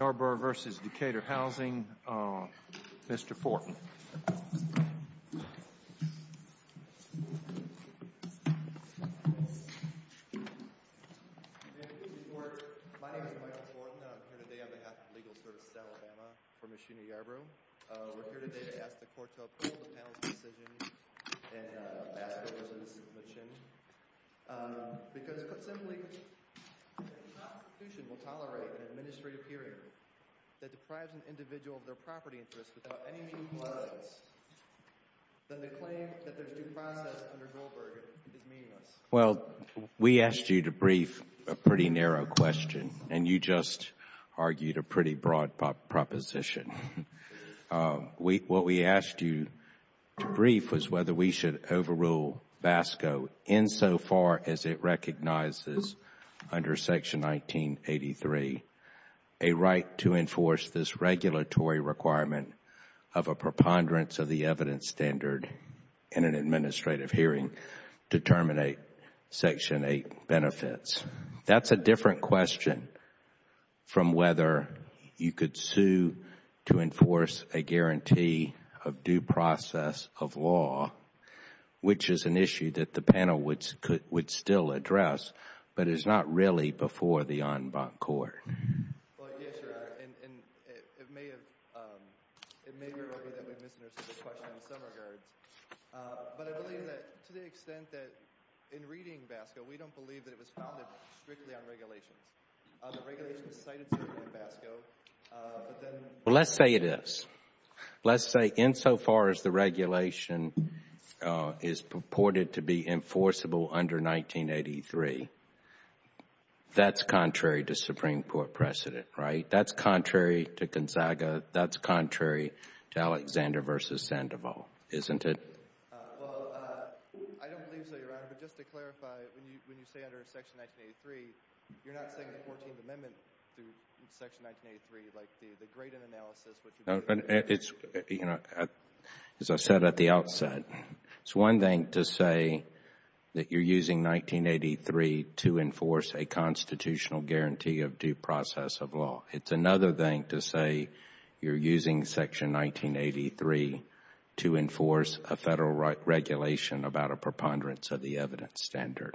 Yarbrough v. Decatur Housing, Mr. Fortin. My name is Miles Fortin. I'm here today on behalf of Legal Services Alabama for Ms. Sheena Yarbrough. We're here today to ask the court to approve the panel's decision in Basco v. Machen. Because, put simply, if the Constitution will tolerate an administrative period that deprives an individual of their property interest without any meaningful evidence, then the claim that there's due process under Goldberg is meaningless. Well, we asked you to brief a pretty narrow question, and you just argued a pretty broad proposition. What we asked you to brief was whether we should overrule Basco insofar as it recognizes under Section 1983 a right to enforce this regulatory requirement of a preponderance of the evidence standard in an administrative hearing to terminate Section 8 benefits. That's a different question from whether you could sue to enforce a guarantee of due process of law, which is an issue that the panel would still address, but is not really before the en banc court. Well, yes, Your Honor, and it may be that we've misunderstood the question in some regards, but I believe that to the extent that in reading Basco, we don't believe that it was founded strictly on regulations. The regulation was cited strictly in Basco, but then— Well, let's say it is. Let's say insofar as the regulation is purported to be enforceable under 1983, that's contrary to Supreme Court precedent, right? That's contrary to Gonzaga. That's contrary to Alexander v. Sandoval, isn't it? Well, I don't believe so, Your Honor, but just to clarify, when you say under Section 1983, you're not saying the Fourteenth Amendment through Section 1983, like the Graydon analysis, which would be— As I said at the outset, it's one thing to say that you're using 1983 to enforce a constitutional guarantee of due process of law. It's another thing to say you're using Section 1983 to enforce a Federal regulation about a preponderance of the evidence standard.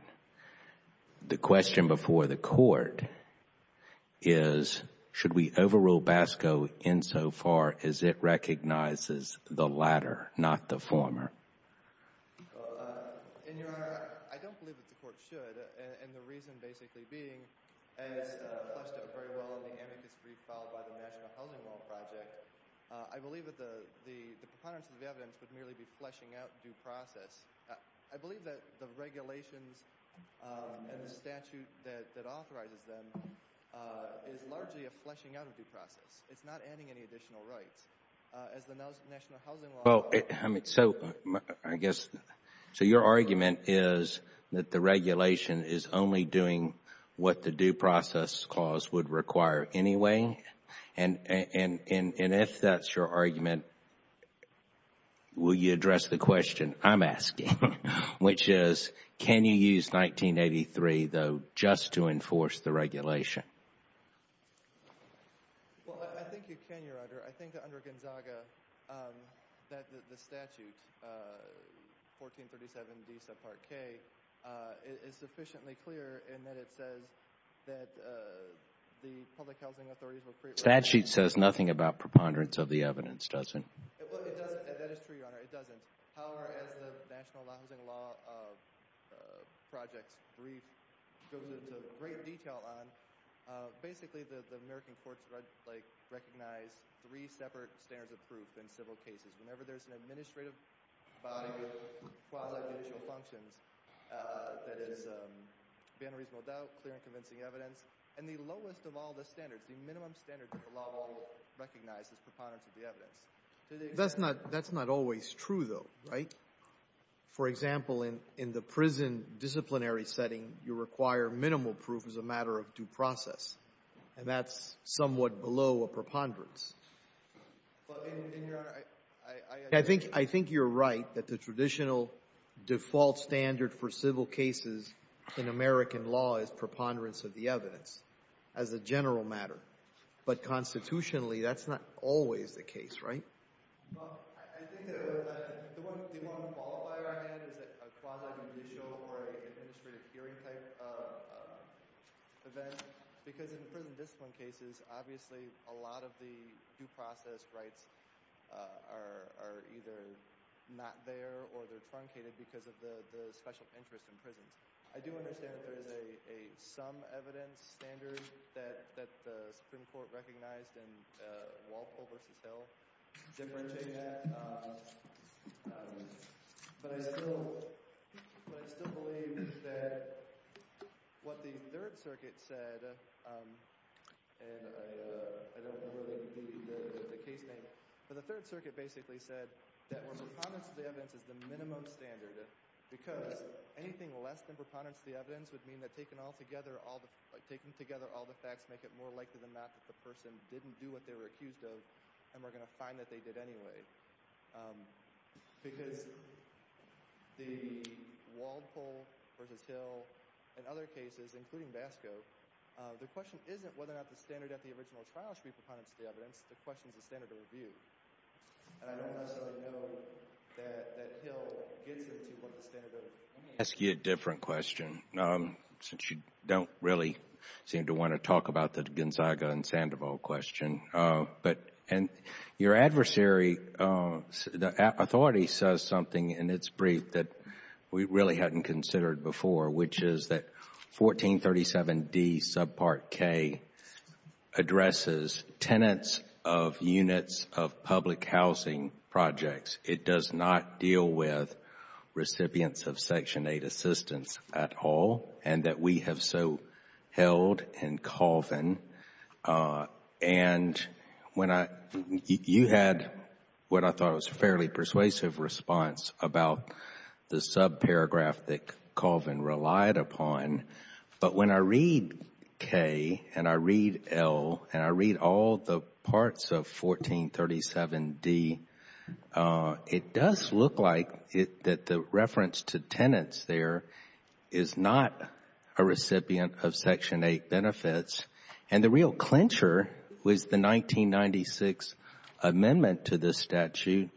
The question before the Court is, should we overrule Basco insofar as it recognizes the latter, not the former? Well, in your honor, I don't believe that the Court should, and the reason basically being, as fleshed out very well in the amicus brief filed by the National Housing Law Project, I believe that the preponderance of the evidence would merely be fleshing out due process. I believe that the regulations and the statute that authorizes them is largely a fleshing out of due process. It's not adding any additional rights. As the National Housing Law— Which is, can you use 1983, though, just to enforce the regulation? Well, I think you can, your honor. I think that under Gonzaga, the statute, 1437D subpart K, is sufficiently clear in that it says that the public housing authorities were— The statute says nothing about preponderance of the evidence, does it? Well, it doesn't. That is true, your honor. It doesn't. However, as the National Housing Law Project's brief goes into great detail on, basically the American courts recognize three separate standards of proof in civil cases. Whenever there's an administrative body with quasi-judicial functions, that is, beyond a reasonable doubt, clear and convincing evidence, and the lowest of all the standards, the minimum standard that the law will recognize is preponderance of the evidence. That's not always true, though, right? For example, in the prison disciplinary setting, you require minimal proof as a matter of due process, and that's somewhat below a preponderance. But in your honor, I— I think you're right that the traditional default standard for civil cases in American law is preponderance of the evidence as a general matter. But constitutionally, that's not always the case, right? Well, I think the one—the one ball by our hand is that a quasi-judicial or an administrative hearing type event, because in prison discipline cases, obviously a lot of the due process rights are either not there or they're truncated because of the special interest in prisons. I do understand that there is a sum evidence standard that the Supreme Court recognized in Walpole v. Hill differentiating that. But I still—but I still believe that what the Third Circuit said, and I don't know where they included the case name, but the Third Circuit basically said that preponderance of the evidence is the minimum standard because anything less than preponderance of the evidence would mean that taking all together all the— —didn't do what they were accused of and we're going to find that they did anyway. Because the Walpole v. Hill and other cases, including Basco, the question isn't whether or not the standard at the original trial should be preponderance of the evidence. The question is the standard of review. And I don't necessarily know that Hill gets into what the standard of— Let me ask you a different question, since you don't really seem to want to talk about the Gonzaga and Sandoval question. But—and your adversary, the authority, says something in its brief that we really hadn't considered before, which is that 1437d subpart K addresses tenants of units of public housing projects. It does not deal with recipients of Section 8 assistance at all and that we have so held in Colvin. And when I—you had what I thought was a fairly persuasive response about the subparagraph that Colvin relied upon, but when I read K and I read L and I read all the parts of 1437d, it does look like that the reference to tenants there is not a recipient of Section 8 benefits. And the real clincher was the 1996 amendment to this statute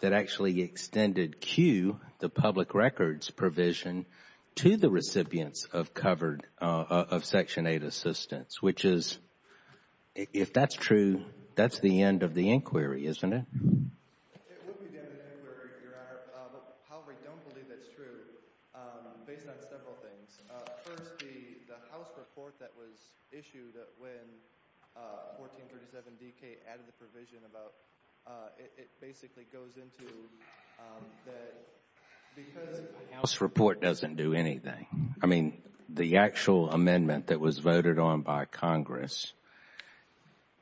that actually extended Q, the public records provision, to the recipients of covered—of Section 8 assistance, which is—if that's true, that's the end of the inquiry, isn't it? It would be the end of the inquiry, Your Honor. However, I don't believe that's true, based on several things. First, the House report that was issued when 1437dK added the provision about—it basically goes into that because— The House report doesn't do anything. I mean, the actual amendment that was voted on by Congress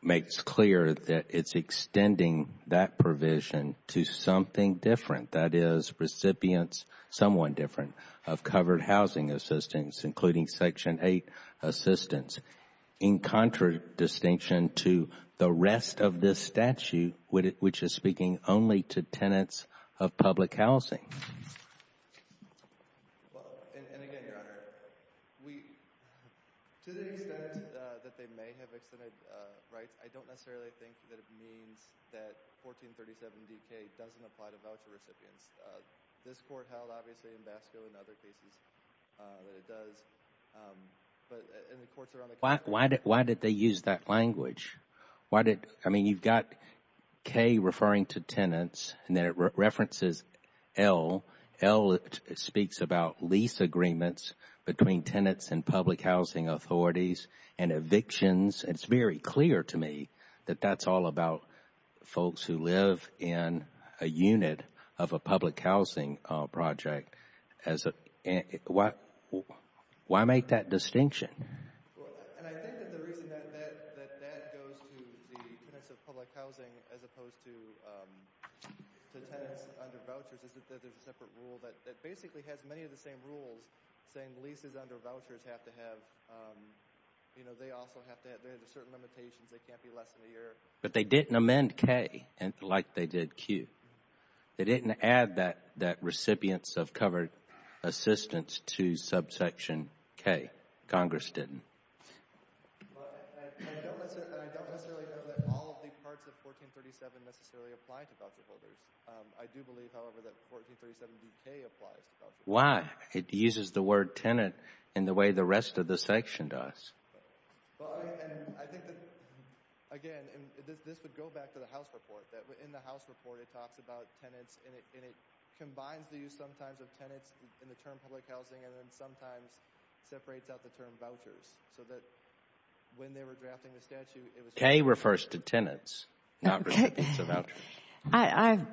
makes clear that it's extending that provision to something different, that is, recipients, someone different, of covered housing assistance, including Section 8 assistance, in contradistinction to the rest of this statute, which is speaking only to tenants of public housing. Well, and again, Your Honor, we—to the extent that they may have extended rights, I don't necessarily think that it means that 1437dK doesn't apply to voucher recipients. This Court held, obviously, in Basco and other cases that it does, but— Why did they use that language? Why did—I mean, you've got K referring to tenants, and then it references L. L speaks about lease agreements between tenants and public housing authorities and evictions. It's very clear to me that that's all about folks who live in a unit of a public housing project as a—why make that distinction? Well, and I think that the reason that that goes to the tenants of public housing as opposed to tenants under vouchers is that there's a separate rule that basically has many of the same rules, saying leases under vouchers have to have—they also have to have certain limitations. They can't be less than a year. But they didn't amend K like they did Q. They didn't add that recipients of covered assistance to subsection K. Congress didn't. But I don't necessarily know that all of the parts of 1437 necessarily apply to voucher holders. I do believe, however, that 1437BK applies to voucher holders. Why? It uses the word tenant in the way the rest of the section does. Well, and I think that, again, this would go back to the House report. In the House report, it talks about tenants, and it combines the use sometimes of tenants in the term public housing, and then sometimes separates out the term vouchers so that when they were drafting the statute, it was— K refers to tenants, not recipients of vouchers.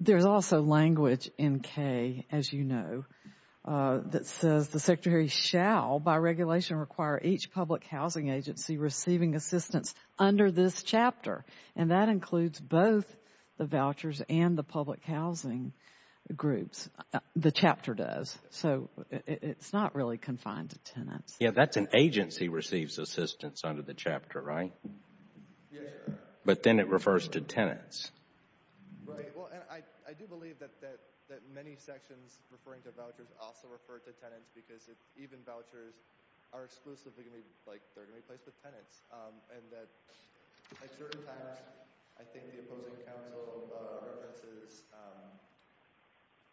There's also language in K, as you know, that says the Secretary shall, by regulation, require each public housing agency receiving assistance under this chapter. And that includes both the vouchers and the public housing groups. The chapter does. So it's not really confined to tenants. Yeah, that's an agency receives assistance under the chapter, right? Yes, sir. But then it refers to tenants. Right. Well, and I do believe that many sections referring to vouchers also refer to tenants because even vouchers are exclusively going to be, like, they're going to be placed with tenants. And that at certain times, I think the opposing counsel references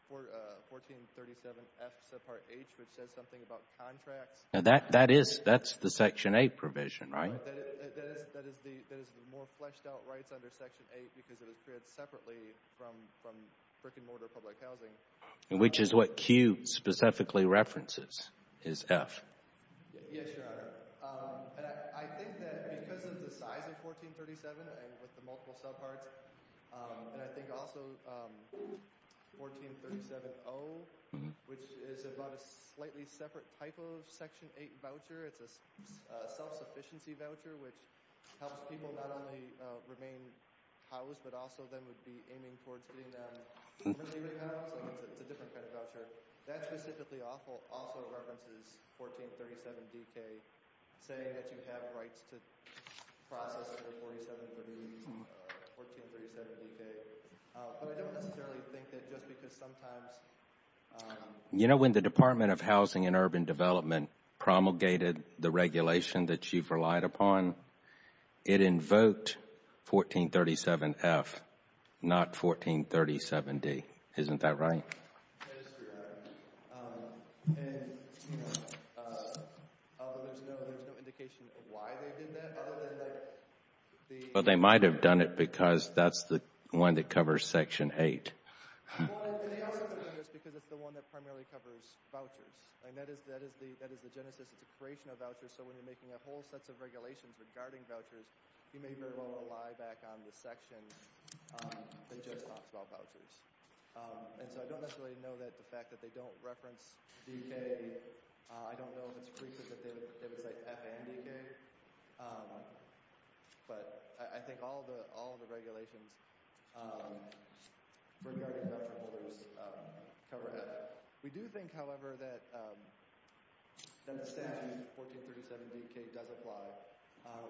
1437F subpart H, which says something about contracts. Now, that is—that's the Section 8 provision, right? That is the more fleshed-out rights under Section 8 because it was created separately from brick-and-mortar public housing. Which is what Q specifically references, is F. Yes, Your Honor. And I think that because of the size of 1437 and with the multiple subparts, and I think also 1437O, which is about a slightly separate type of Section 8 voucher, it's a self-sufficiency voucher, which helps people not only remain housed but also then would be aiming towards getting them to live in housing. It's a different kind of voucher. That specifically also references 1437DK, saying that you have rights to process under 4738 or 1437DK. But I don't necessarily think that just because sometimes— You know, when the Department of Housing and Urban Development promulgated the regulation that you've relied upon, it invoked 1437F, not 1437D. Isn't that right? Yes, Your Honor. And, you know, although there's no indication of why they did that other than like the— Well, they might have done it because that's the one that covers Section 8. Well, they also did this because it's the one that primarily covers vouchers. That is the genesis. It's a creation of vouchers. So when you're making a whole set of regulations regarding vouchers, you may very well rely back on the section that just talks about vouchers. And so I don't necessarily know the fact that they don't reference DK. I don't know if it's frequent that they would say FNDK. But I think all of the regulations regarding voucher holders cover that. We do think, however, that the statute, 1437DK, does apply.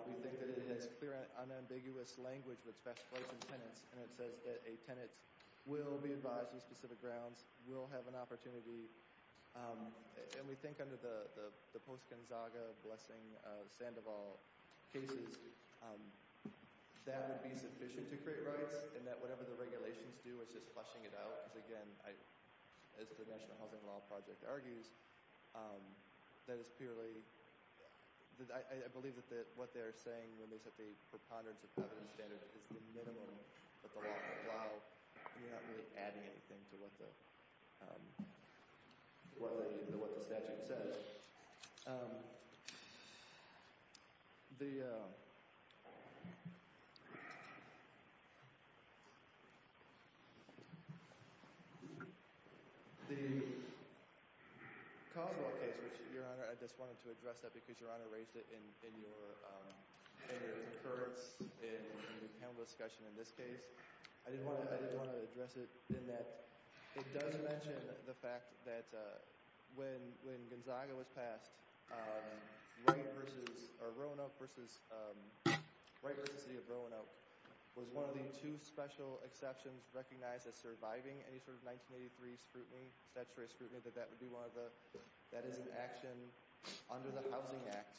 We think that it has clear and unambiguous language that specifies some tenants, and it says that a tenant will be advised on specific grounds, will have an opportunity. And we think under the post-Gonzaga, Blessing, Sandoval cases, that would be sufficient to create rights, and that whatever the regulations do is just fleshing it out. Because, again, as the National Housing Law Project argues, that is purely— I believe that what they're saying when they said the preponderance of property standards is the minimum that the law can allow. We're not really adding anything to what the statute says. The Coswell case, which, Your Honor, I just wanted to address that because Your Honor raised it in your concurrence in the panel discussion in this case. I did want to address it in that it does mention the fact that when Gonzaga was passed, Roanoke versus the City of Roanoke was one of the two special exceptions recognized as surviving any sort of 1983 scrutiny, statutory scrutiny, that that is an action under the Housing Act,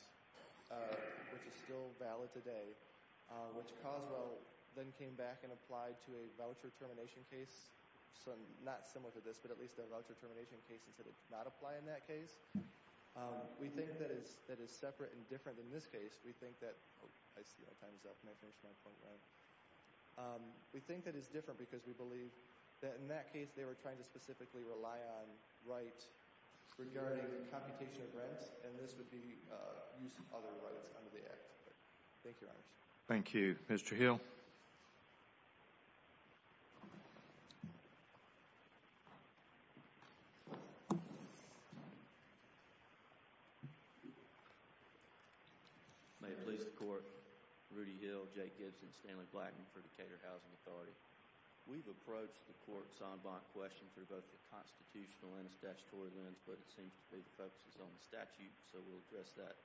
which is still valid today, which Coswell then came back and applied to a voucher termination case, not similar to this, but at least a voucher termination case, and said it did not apply in that case. We think that it's separate and different in this case. We think that—oh, I see my time's up, and I finished my point there. We think that it's different because we believe that in that case, they were trying to specifically rely on right regarding computation of rents, and this would be use of other rights under the Act. Thank you, Your Honor. Thank you. Mr. Hill? May it please the Court, Rudy Hill, Jay Gibson, Stanley Blackman for the Decatur Housing Authority. We've approached the court's en banc question through both the constitutional and the statutory lens, but it seems to me it focuses on the statute, so we'll address that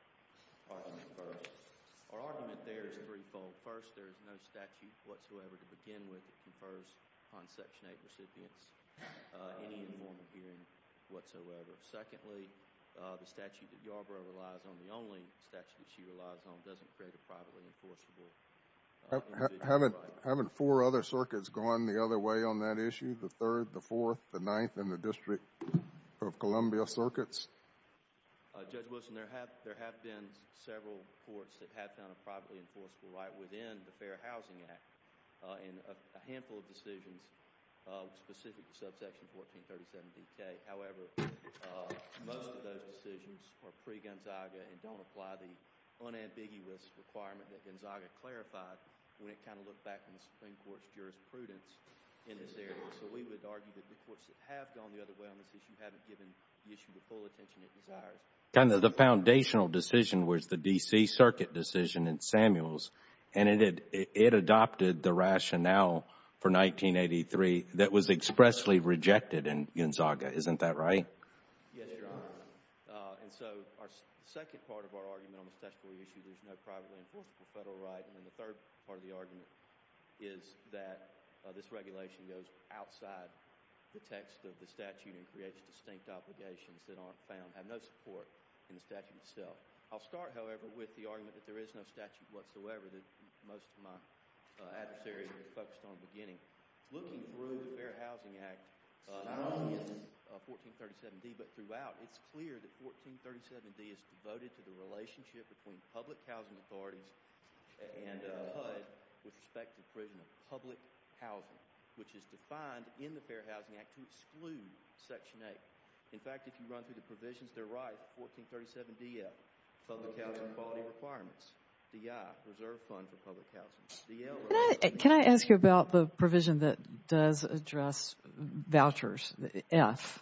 question first. Our argument there is threefold. First, there is no statute whatsoever to begin with that confers upon Section 8 recipients any informal hearing whatsoever. Secondly, the statute that Yarbrough relies on, the only statute that she relies on, doesn't create a privately enforceable individual right. Haven't four other circuits gone the other way on that issue, the third, the fourth, the ninth, and the District of Columbia circuits? Judge Wilson, there have been several courts that have found a privately enforceable right within the Fair Housing Act in a handful of decisions specific to subsection 1437BK. However, most of those decisions are pre-Gonzaga and don't apply the unambiguous requirement that Gonzaga clarified when it kind of looked back on the Supreme Court's jurisprudence in this area. So we would argue that the courts that have gone the other way on this issue haven't given the issue the full attention it desires. The foundational decision was the D.C. Circuit decision in Samuels, and it adopted the rationale for 1983 that was expressly rejected in Gonzaga. Isn't that right? Yes, Your Honor. And so our second part of our argument on the statutory issue, there's no privately enforceable federal right, and then the third part of the argument is that this regulation goes outside the text of the statute and creates distinct obligations that aren't found, have no support in the statute itself. I'll start, however, with the argument that there is no statute whatsoever that most of my adversaries have focused on at the beginning. Looking through the Fair Housing Act, not only is it 1437D, but throughout it's clear that 1437D is devoted to the relationship between public housing authorities and HUD with respect to the provision of public housing, which is defined in the Fair Housing Act to exclude Section 8. In fact, if you run through the provisions, they're right. 1437DF, public housing quality requirements. DI, reserve fund for public housing. Can I ask you about the provision that does address vouchers, the F?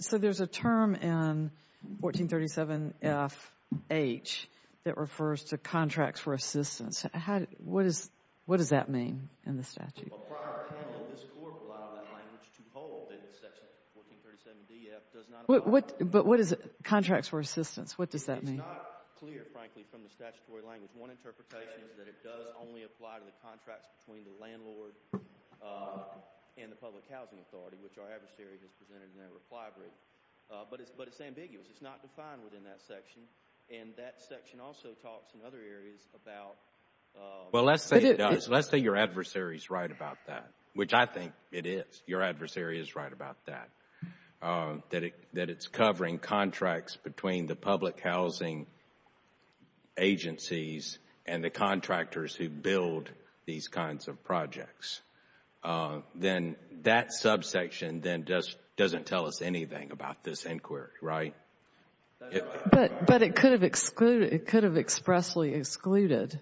So there's a term in 1437FH that refers to contracts for assistance. What does that mean in the statute? A prior panel of this Court allowed that language to hold that Section 1437DF does not apply. But what is it, contracts for assistance, what does that mean? It's not clear, frankly, from the statutory language. One interpretation is that it does only apply to the contracts between the landlord and the public housing authority, which our adversary has presented in their reply brief. But it's ambiguous. It's not defined within that section. And that section also talks in other areas about— Well, let's say your adversary is right about that, which I think it is. Your adversary is right about that, that it's covering contracts between the public housing agencies and the contractors who build these kinds of projects. Then that subsection then doesn't tell us anything about this inquiry, right? But it could have expressly excluded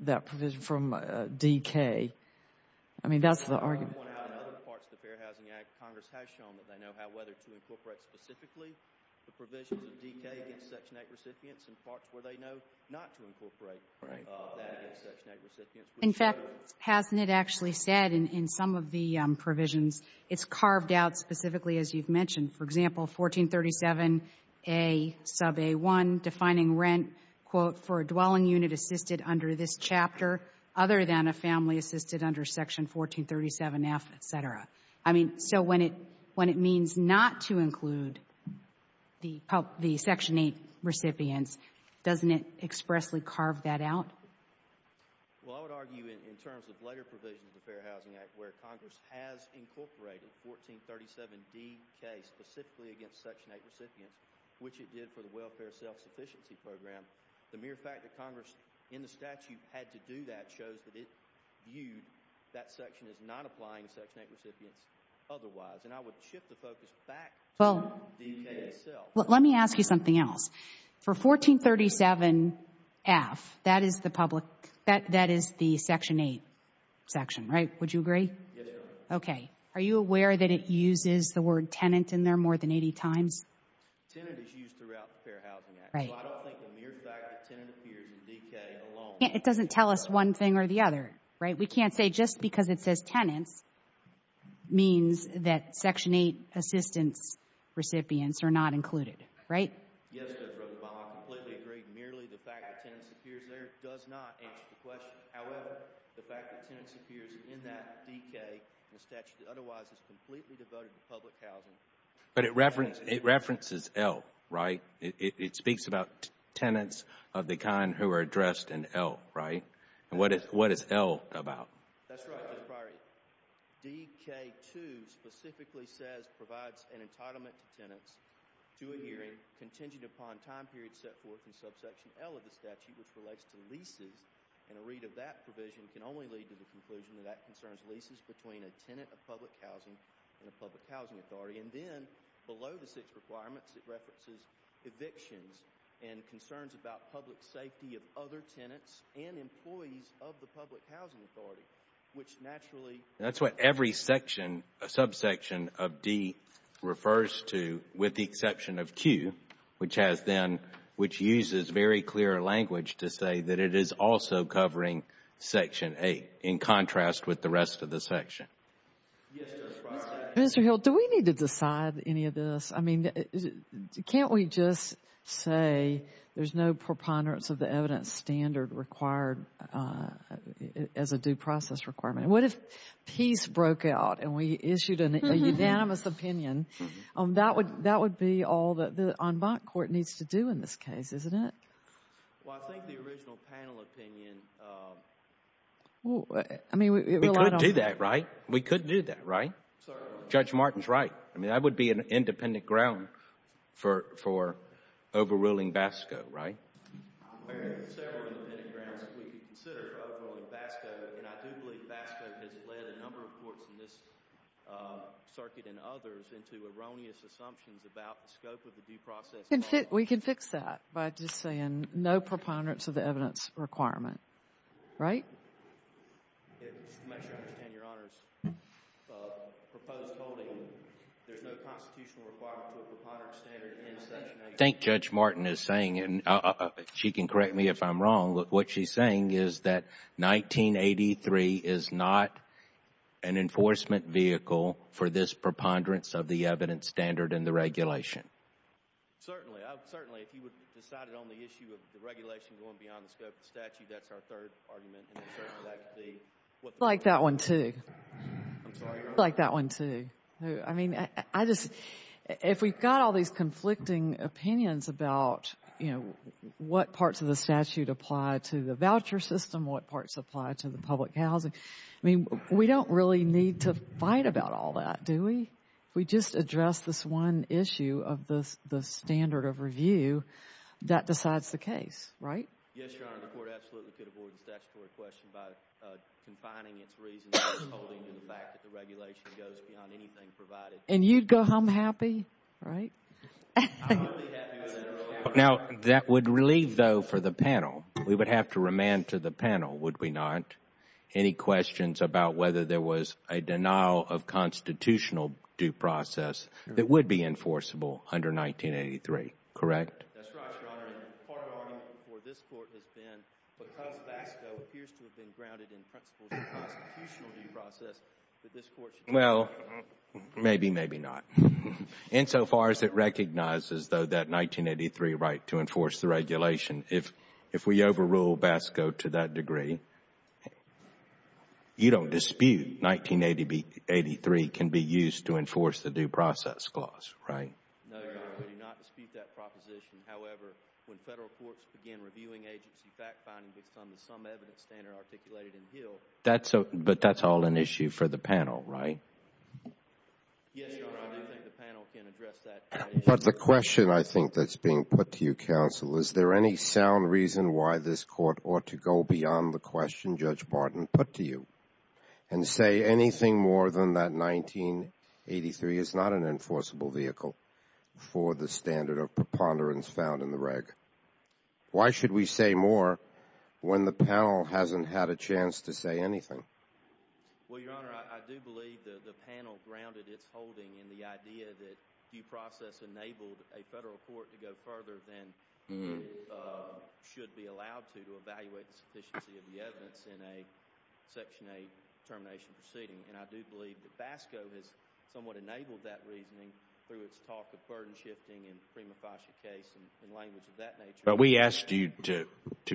that provision from DK. I mean, that's the argument. We have one out in other parts of the Fair Housing Act. Congress has shown that they know how, whether to incorporate specifically the provisions of DK against Section 8 recipients and parts where they know not to incorporate that against Section 8 recipients. In fact, hasn't it actually said in some of the provisions, it's carved out specifically, as you've mentioned, for example, 1437A sub A1, defining rent, quote, for a dwelling unit assisted under this chapter other than a family assisted under Section 1437F, et cetera? I mean, so when it means not to include the Section 8 recipients, doesn't it expressly carve that out? Well, I would argue in terms of later provisions of the Fair Housing Act where Congress has incorporated 1437DK specifically against Section 8 recipients, which it did for the Welfare Self-Sufficiency Program, the mere fact that Congress in the statute had to do that shows that it viewed that section as not applying Section 8 recipients otherwise. And I would shift the focus back to the DK itself. Well, let me ask you something else. For 1437F, that is the public, that is the Section 8 section, right? Would you agree? Yes, ma'am. Okay. Are you aware that it uses the word tenant in there more than 80 times? Tenant is used throughout the Fair Housing Act. So I don't think the mere fact that tenant appears in DK alone. It doesn't tell us one thing or the other, right? We can't say just because it says tenants means that Section 8 assistance recipients are not included, right? Yes, Judge Rothenbaum, I completely agree. Merely the fact that tenants appears there does not answer the question. However, the fact that tenants appears in that DK in the statute that otherwise is completely devoted to public housing. But it references L, right? It speaks about tenants of the kind who are addressed in L, right? And what is L about? That's right, Judge Breyer. DK2 specifically says provides an entitlement to tenants to a hearing contingent upon time period set forth in subsection L of the statute which relates to leases. And a read of that provision can only lead to the conclusion that that concerns leases between a tenant of public housing and a public housing authority. And then below the six requirements, it references evictions and concerns about public safety of other tenants and employees of the public housing authority, which naturally… That's what every section, subsection of D refers to with the exception of Q, which has then, which uses very clear language to say that it is also covering Section 8 in contrast with the rest of the section. Yes, Judge Breyer. Mr. Hill, do we need to decide any of this? I mean, can't we just say there's no preponderance of the evidence standard required as a due process requirement? What if peace broke out and we issued a unanimous opinion? That would be all that the en banc court needs to do in this case, isn't it? Well, I think the original panel opinion… We could do that, right? We could do that, right? Judge Martin's right. I mean, that would be an independent ground for overruling BASCO, right? There are several independent grounds that we could consider overruling BASCO, and I do believe BASCO has led a number of courts in this circuit and others into erroneous assumptions about the scope of the due process… We can fix that by just saying no preponderance of the evidence requirement, right? Just to make sure I understand your honors, proposed holding there's no constitutional requirement to a preponderance standard… I think Judge Martin is saying, and she can correct me if I'm wrong, what she's saying is that 1983 is not an enforcement vehicle for this preponderance of the evidence standard in the regulation. Certainly. Certainly, if you would decide it on the issue of the regulation going beyond the scope of the statute, that's our third argument. I like that one too. I like that one too. I mean, if we've got all these conflicting opinions about, you know, what parts of the statute apply to the voucher system, what parts apply to the public housing, I mean, we don't really need to fight about all that, do we? If we just address this one issue of the standard of review, that decides the case, right? Yes, Your Honor. The court absolutely could avoid the statutory question by confining its reasons to holding to the fact that the regulation goes beyond anything provided. And you'd go home happy, right? Now, that would leave, though, for the panel. We would have to remand to the panel, would we not? Any questions about whether there was a denial of constitutional due process that would be enforceable under 1983, correct? That's right, Your Honor. And part of the argument for this court has been, because BASCO appears to have been grounded in principles of constitutional due process, that this court should deny it. Well, maybe, maybe not. Insofar as it recognizes, though, that 1983 right to enforce the regulation, if we overrule BASCO to that degree, you don't dispute 1983 can be used to enforce the due process clause, right? No, Your Honor. We do not dispute that proposition. However, when federal courts begin reviewing agency fact-finding based on the sum evidence standard articulated in Hill. But that's all an issue for the panel, right? Yes, Your Honor. I do think the panel can address that issue. But the question, I think, that's being put to you, Counsel, is there any sound reason why this court ought to go beyond the question Judge Martin put to you and say anything more than that 1983 is not an enforceable vehicle for the standard of preponderance found in the reg? Why should we say more when the panel hasn't had a chance to say anything? Well, Your Honor, I do believe the panel grounded its holding in the idea that due process enabled a federal court to go further than it should be allowed to to evaluate the sufficiency of the evidence in a Section 8 termination proceeding. And I do believe that BASCO has somewhat enabled that reasoning through its talk of burden shifting in the Prima Fascia case and language of that nature. But we asked you to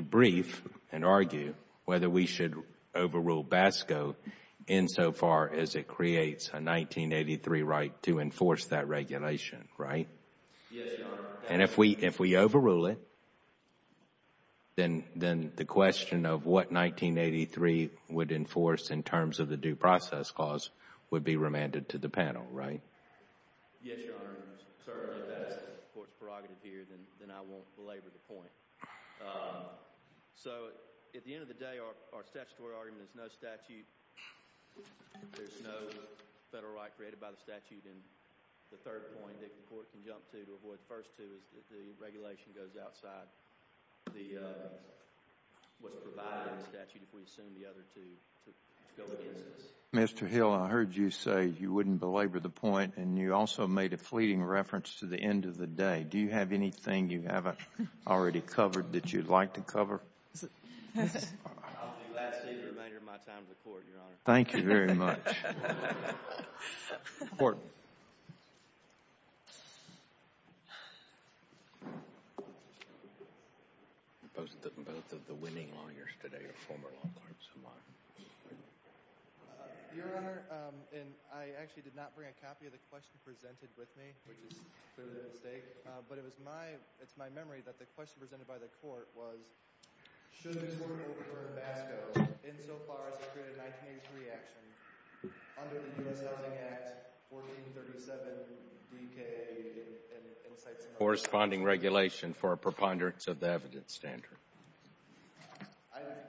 brief and argue whether we should overrule BASCO insofar as it creates a 1983 right to enforce that regulation, right? Yes, Your Honor. And if we overrule it, then the question of what 1983 would enforce in terms of the due process clause would be remanded to the panel, right? Yes, Your Honor. Certainly, if that's the court's prerogative here, then I won't belabor the point. So at the end of the day, our statutory argument is no statute. There's no federal right created by the statute. And the third point that the court can jump to to avoid the first two is that the regulation goes outside what's provided in the statute if we assume the other two to go against us. Mr. Hill, I heard you say you wouldn't belabor the point, and you also made a fleeting reference to the end of the day. Do you have anything you haven't already covered that you'd like to cover? I'll do the remainder of my time to the court, Your Honor. Thank you very much. Court. Both of the winning lawyers today are former law clerks of mine. Your Honor, I actually did not bring a copy of the question presented with me, which is clearly a mistake, but it's my memory that the question presented by the court was, should the court refer to FASCO insofar as it created a 1983 action under the U.S. Housing Act 1437BK and the sites in which it was created? Corresponding regulation for a preponderance of the evidence standard.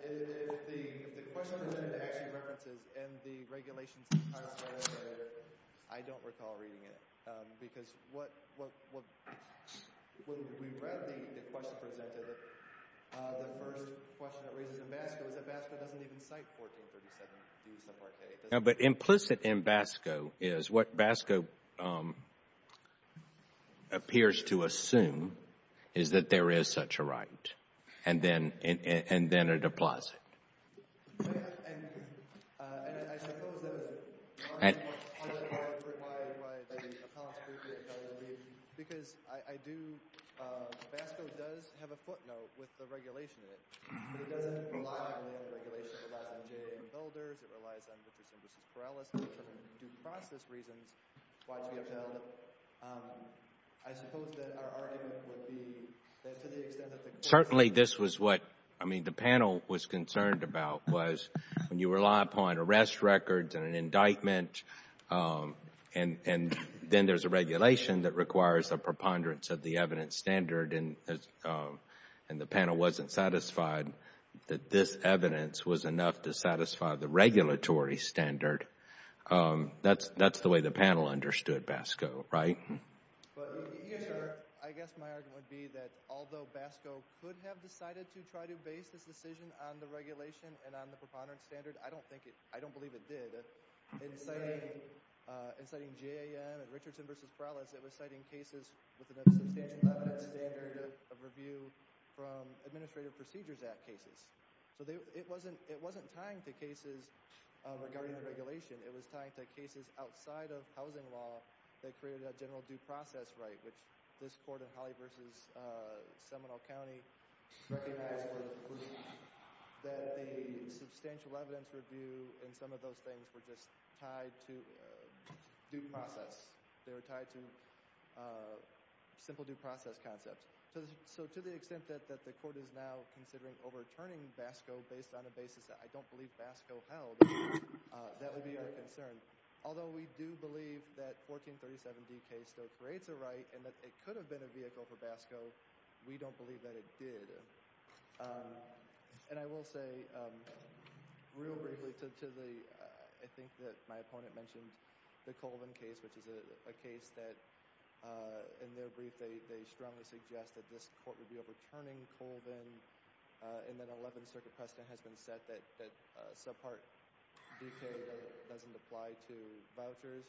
If the question presented actually references and the regulations are still there, I don't recall reading it, because when we read the question presented, the first question that raises in FASCO is that FASCO doesn't even cite 1437BK. No, but implicit in FASCO is what FASCO appears to assume is that there is such a right, and then it applies it. And I suppose that was part of the point of why the appellant's brief didn't tell you, because FASCO does have a footnote with the regulation in it, but it doesn't rely on the regulation. It relies on J.A. and Felder's. It relies on Mr. Simpson's and Mr. Corrales' due process reasons why it should be upheld. I suppose that our argument would be that to the extent that the court— Well, certainly this was what, I mean, the panel was concerned about, was when you rely upon arrest records and an indictment, and then there's a regulation that requires a preponderance of the evidence standard and the panel wasn't satisfied that this evidence was enough to satisfy the regulatory standard, that's the way the panel understood FASCO, right? I guess my argument would be that although FASCO could have decided to try to base this decision on the regulation and on the preponderance standard, I don't believe it did. In citing J.A.M. and Richardson v. Corrales, it was citing cases with another substantial evidence standard of review from Administrative Procedures Act cases. So it wasn't tying to cases regarding the regulation. It was tying to cases outside of housing law that created a general due process right, which this court in Holly v. Seminole County recognized that the substantial evidence review and some of those things were just tied to due process. They were tied to simple due process concepts. So to the extent that the court is now considering overturning FASCO based on a basis that I don't believe FASCO held, that would be our concern. Although we do believe that 1437D case still creates a right and that it could have been a vehicle for FASCO, we don't believe that it did. And I will say real briefly to the—I think that my opponent mentioned the Colvin case, which is a case that in their brief they strongly suggested this court would be overturning Colvin and that an 11th Circuit precedent has been set that subpart BK doesn't apply to vouchers.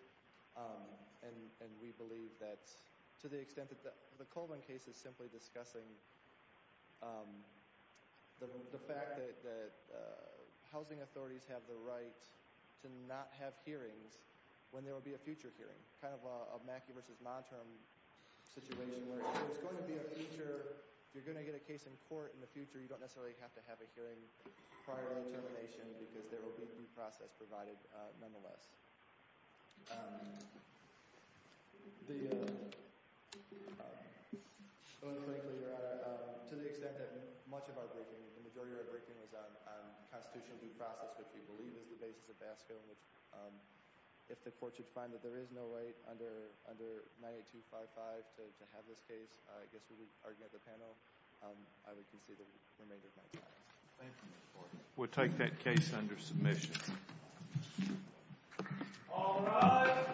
And we believe that to the extent that the Colvin case is simply discussing the fact that housing authorities have the right to not have hearings when there will be a future hearing, kind of a Mackey v. Monterm situation where if there's going to be a future, if you're going to get a case in court in the future, you don't necessarily have to have a hearing prior to termination because there will be due process provided nonetheless. To the extent that much of our briefing, the majority of our briefing was on constitutional due process, which we believe is the basis of FASCO. If the court should find that there is no right under 98255 to have this case, I guess when we argue at the panel, I would consider the remainder of my time. Thank you, Mr. Court. We'll take that case under submission. All rise.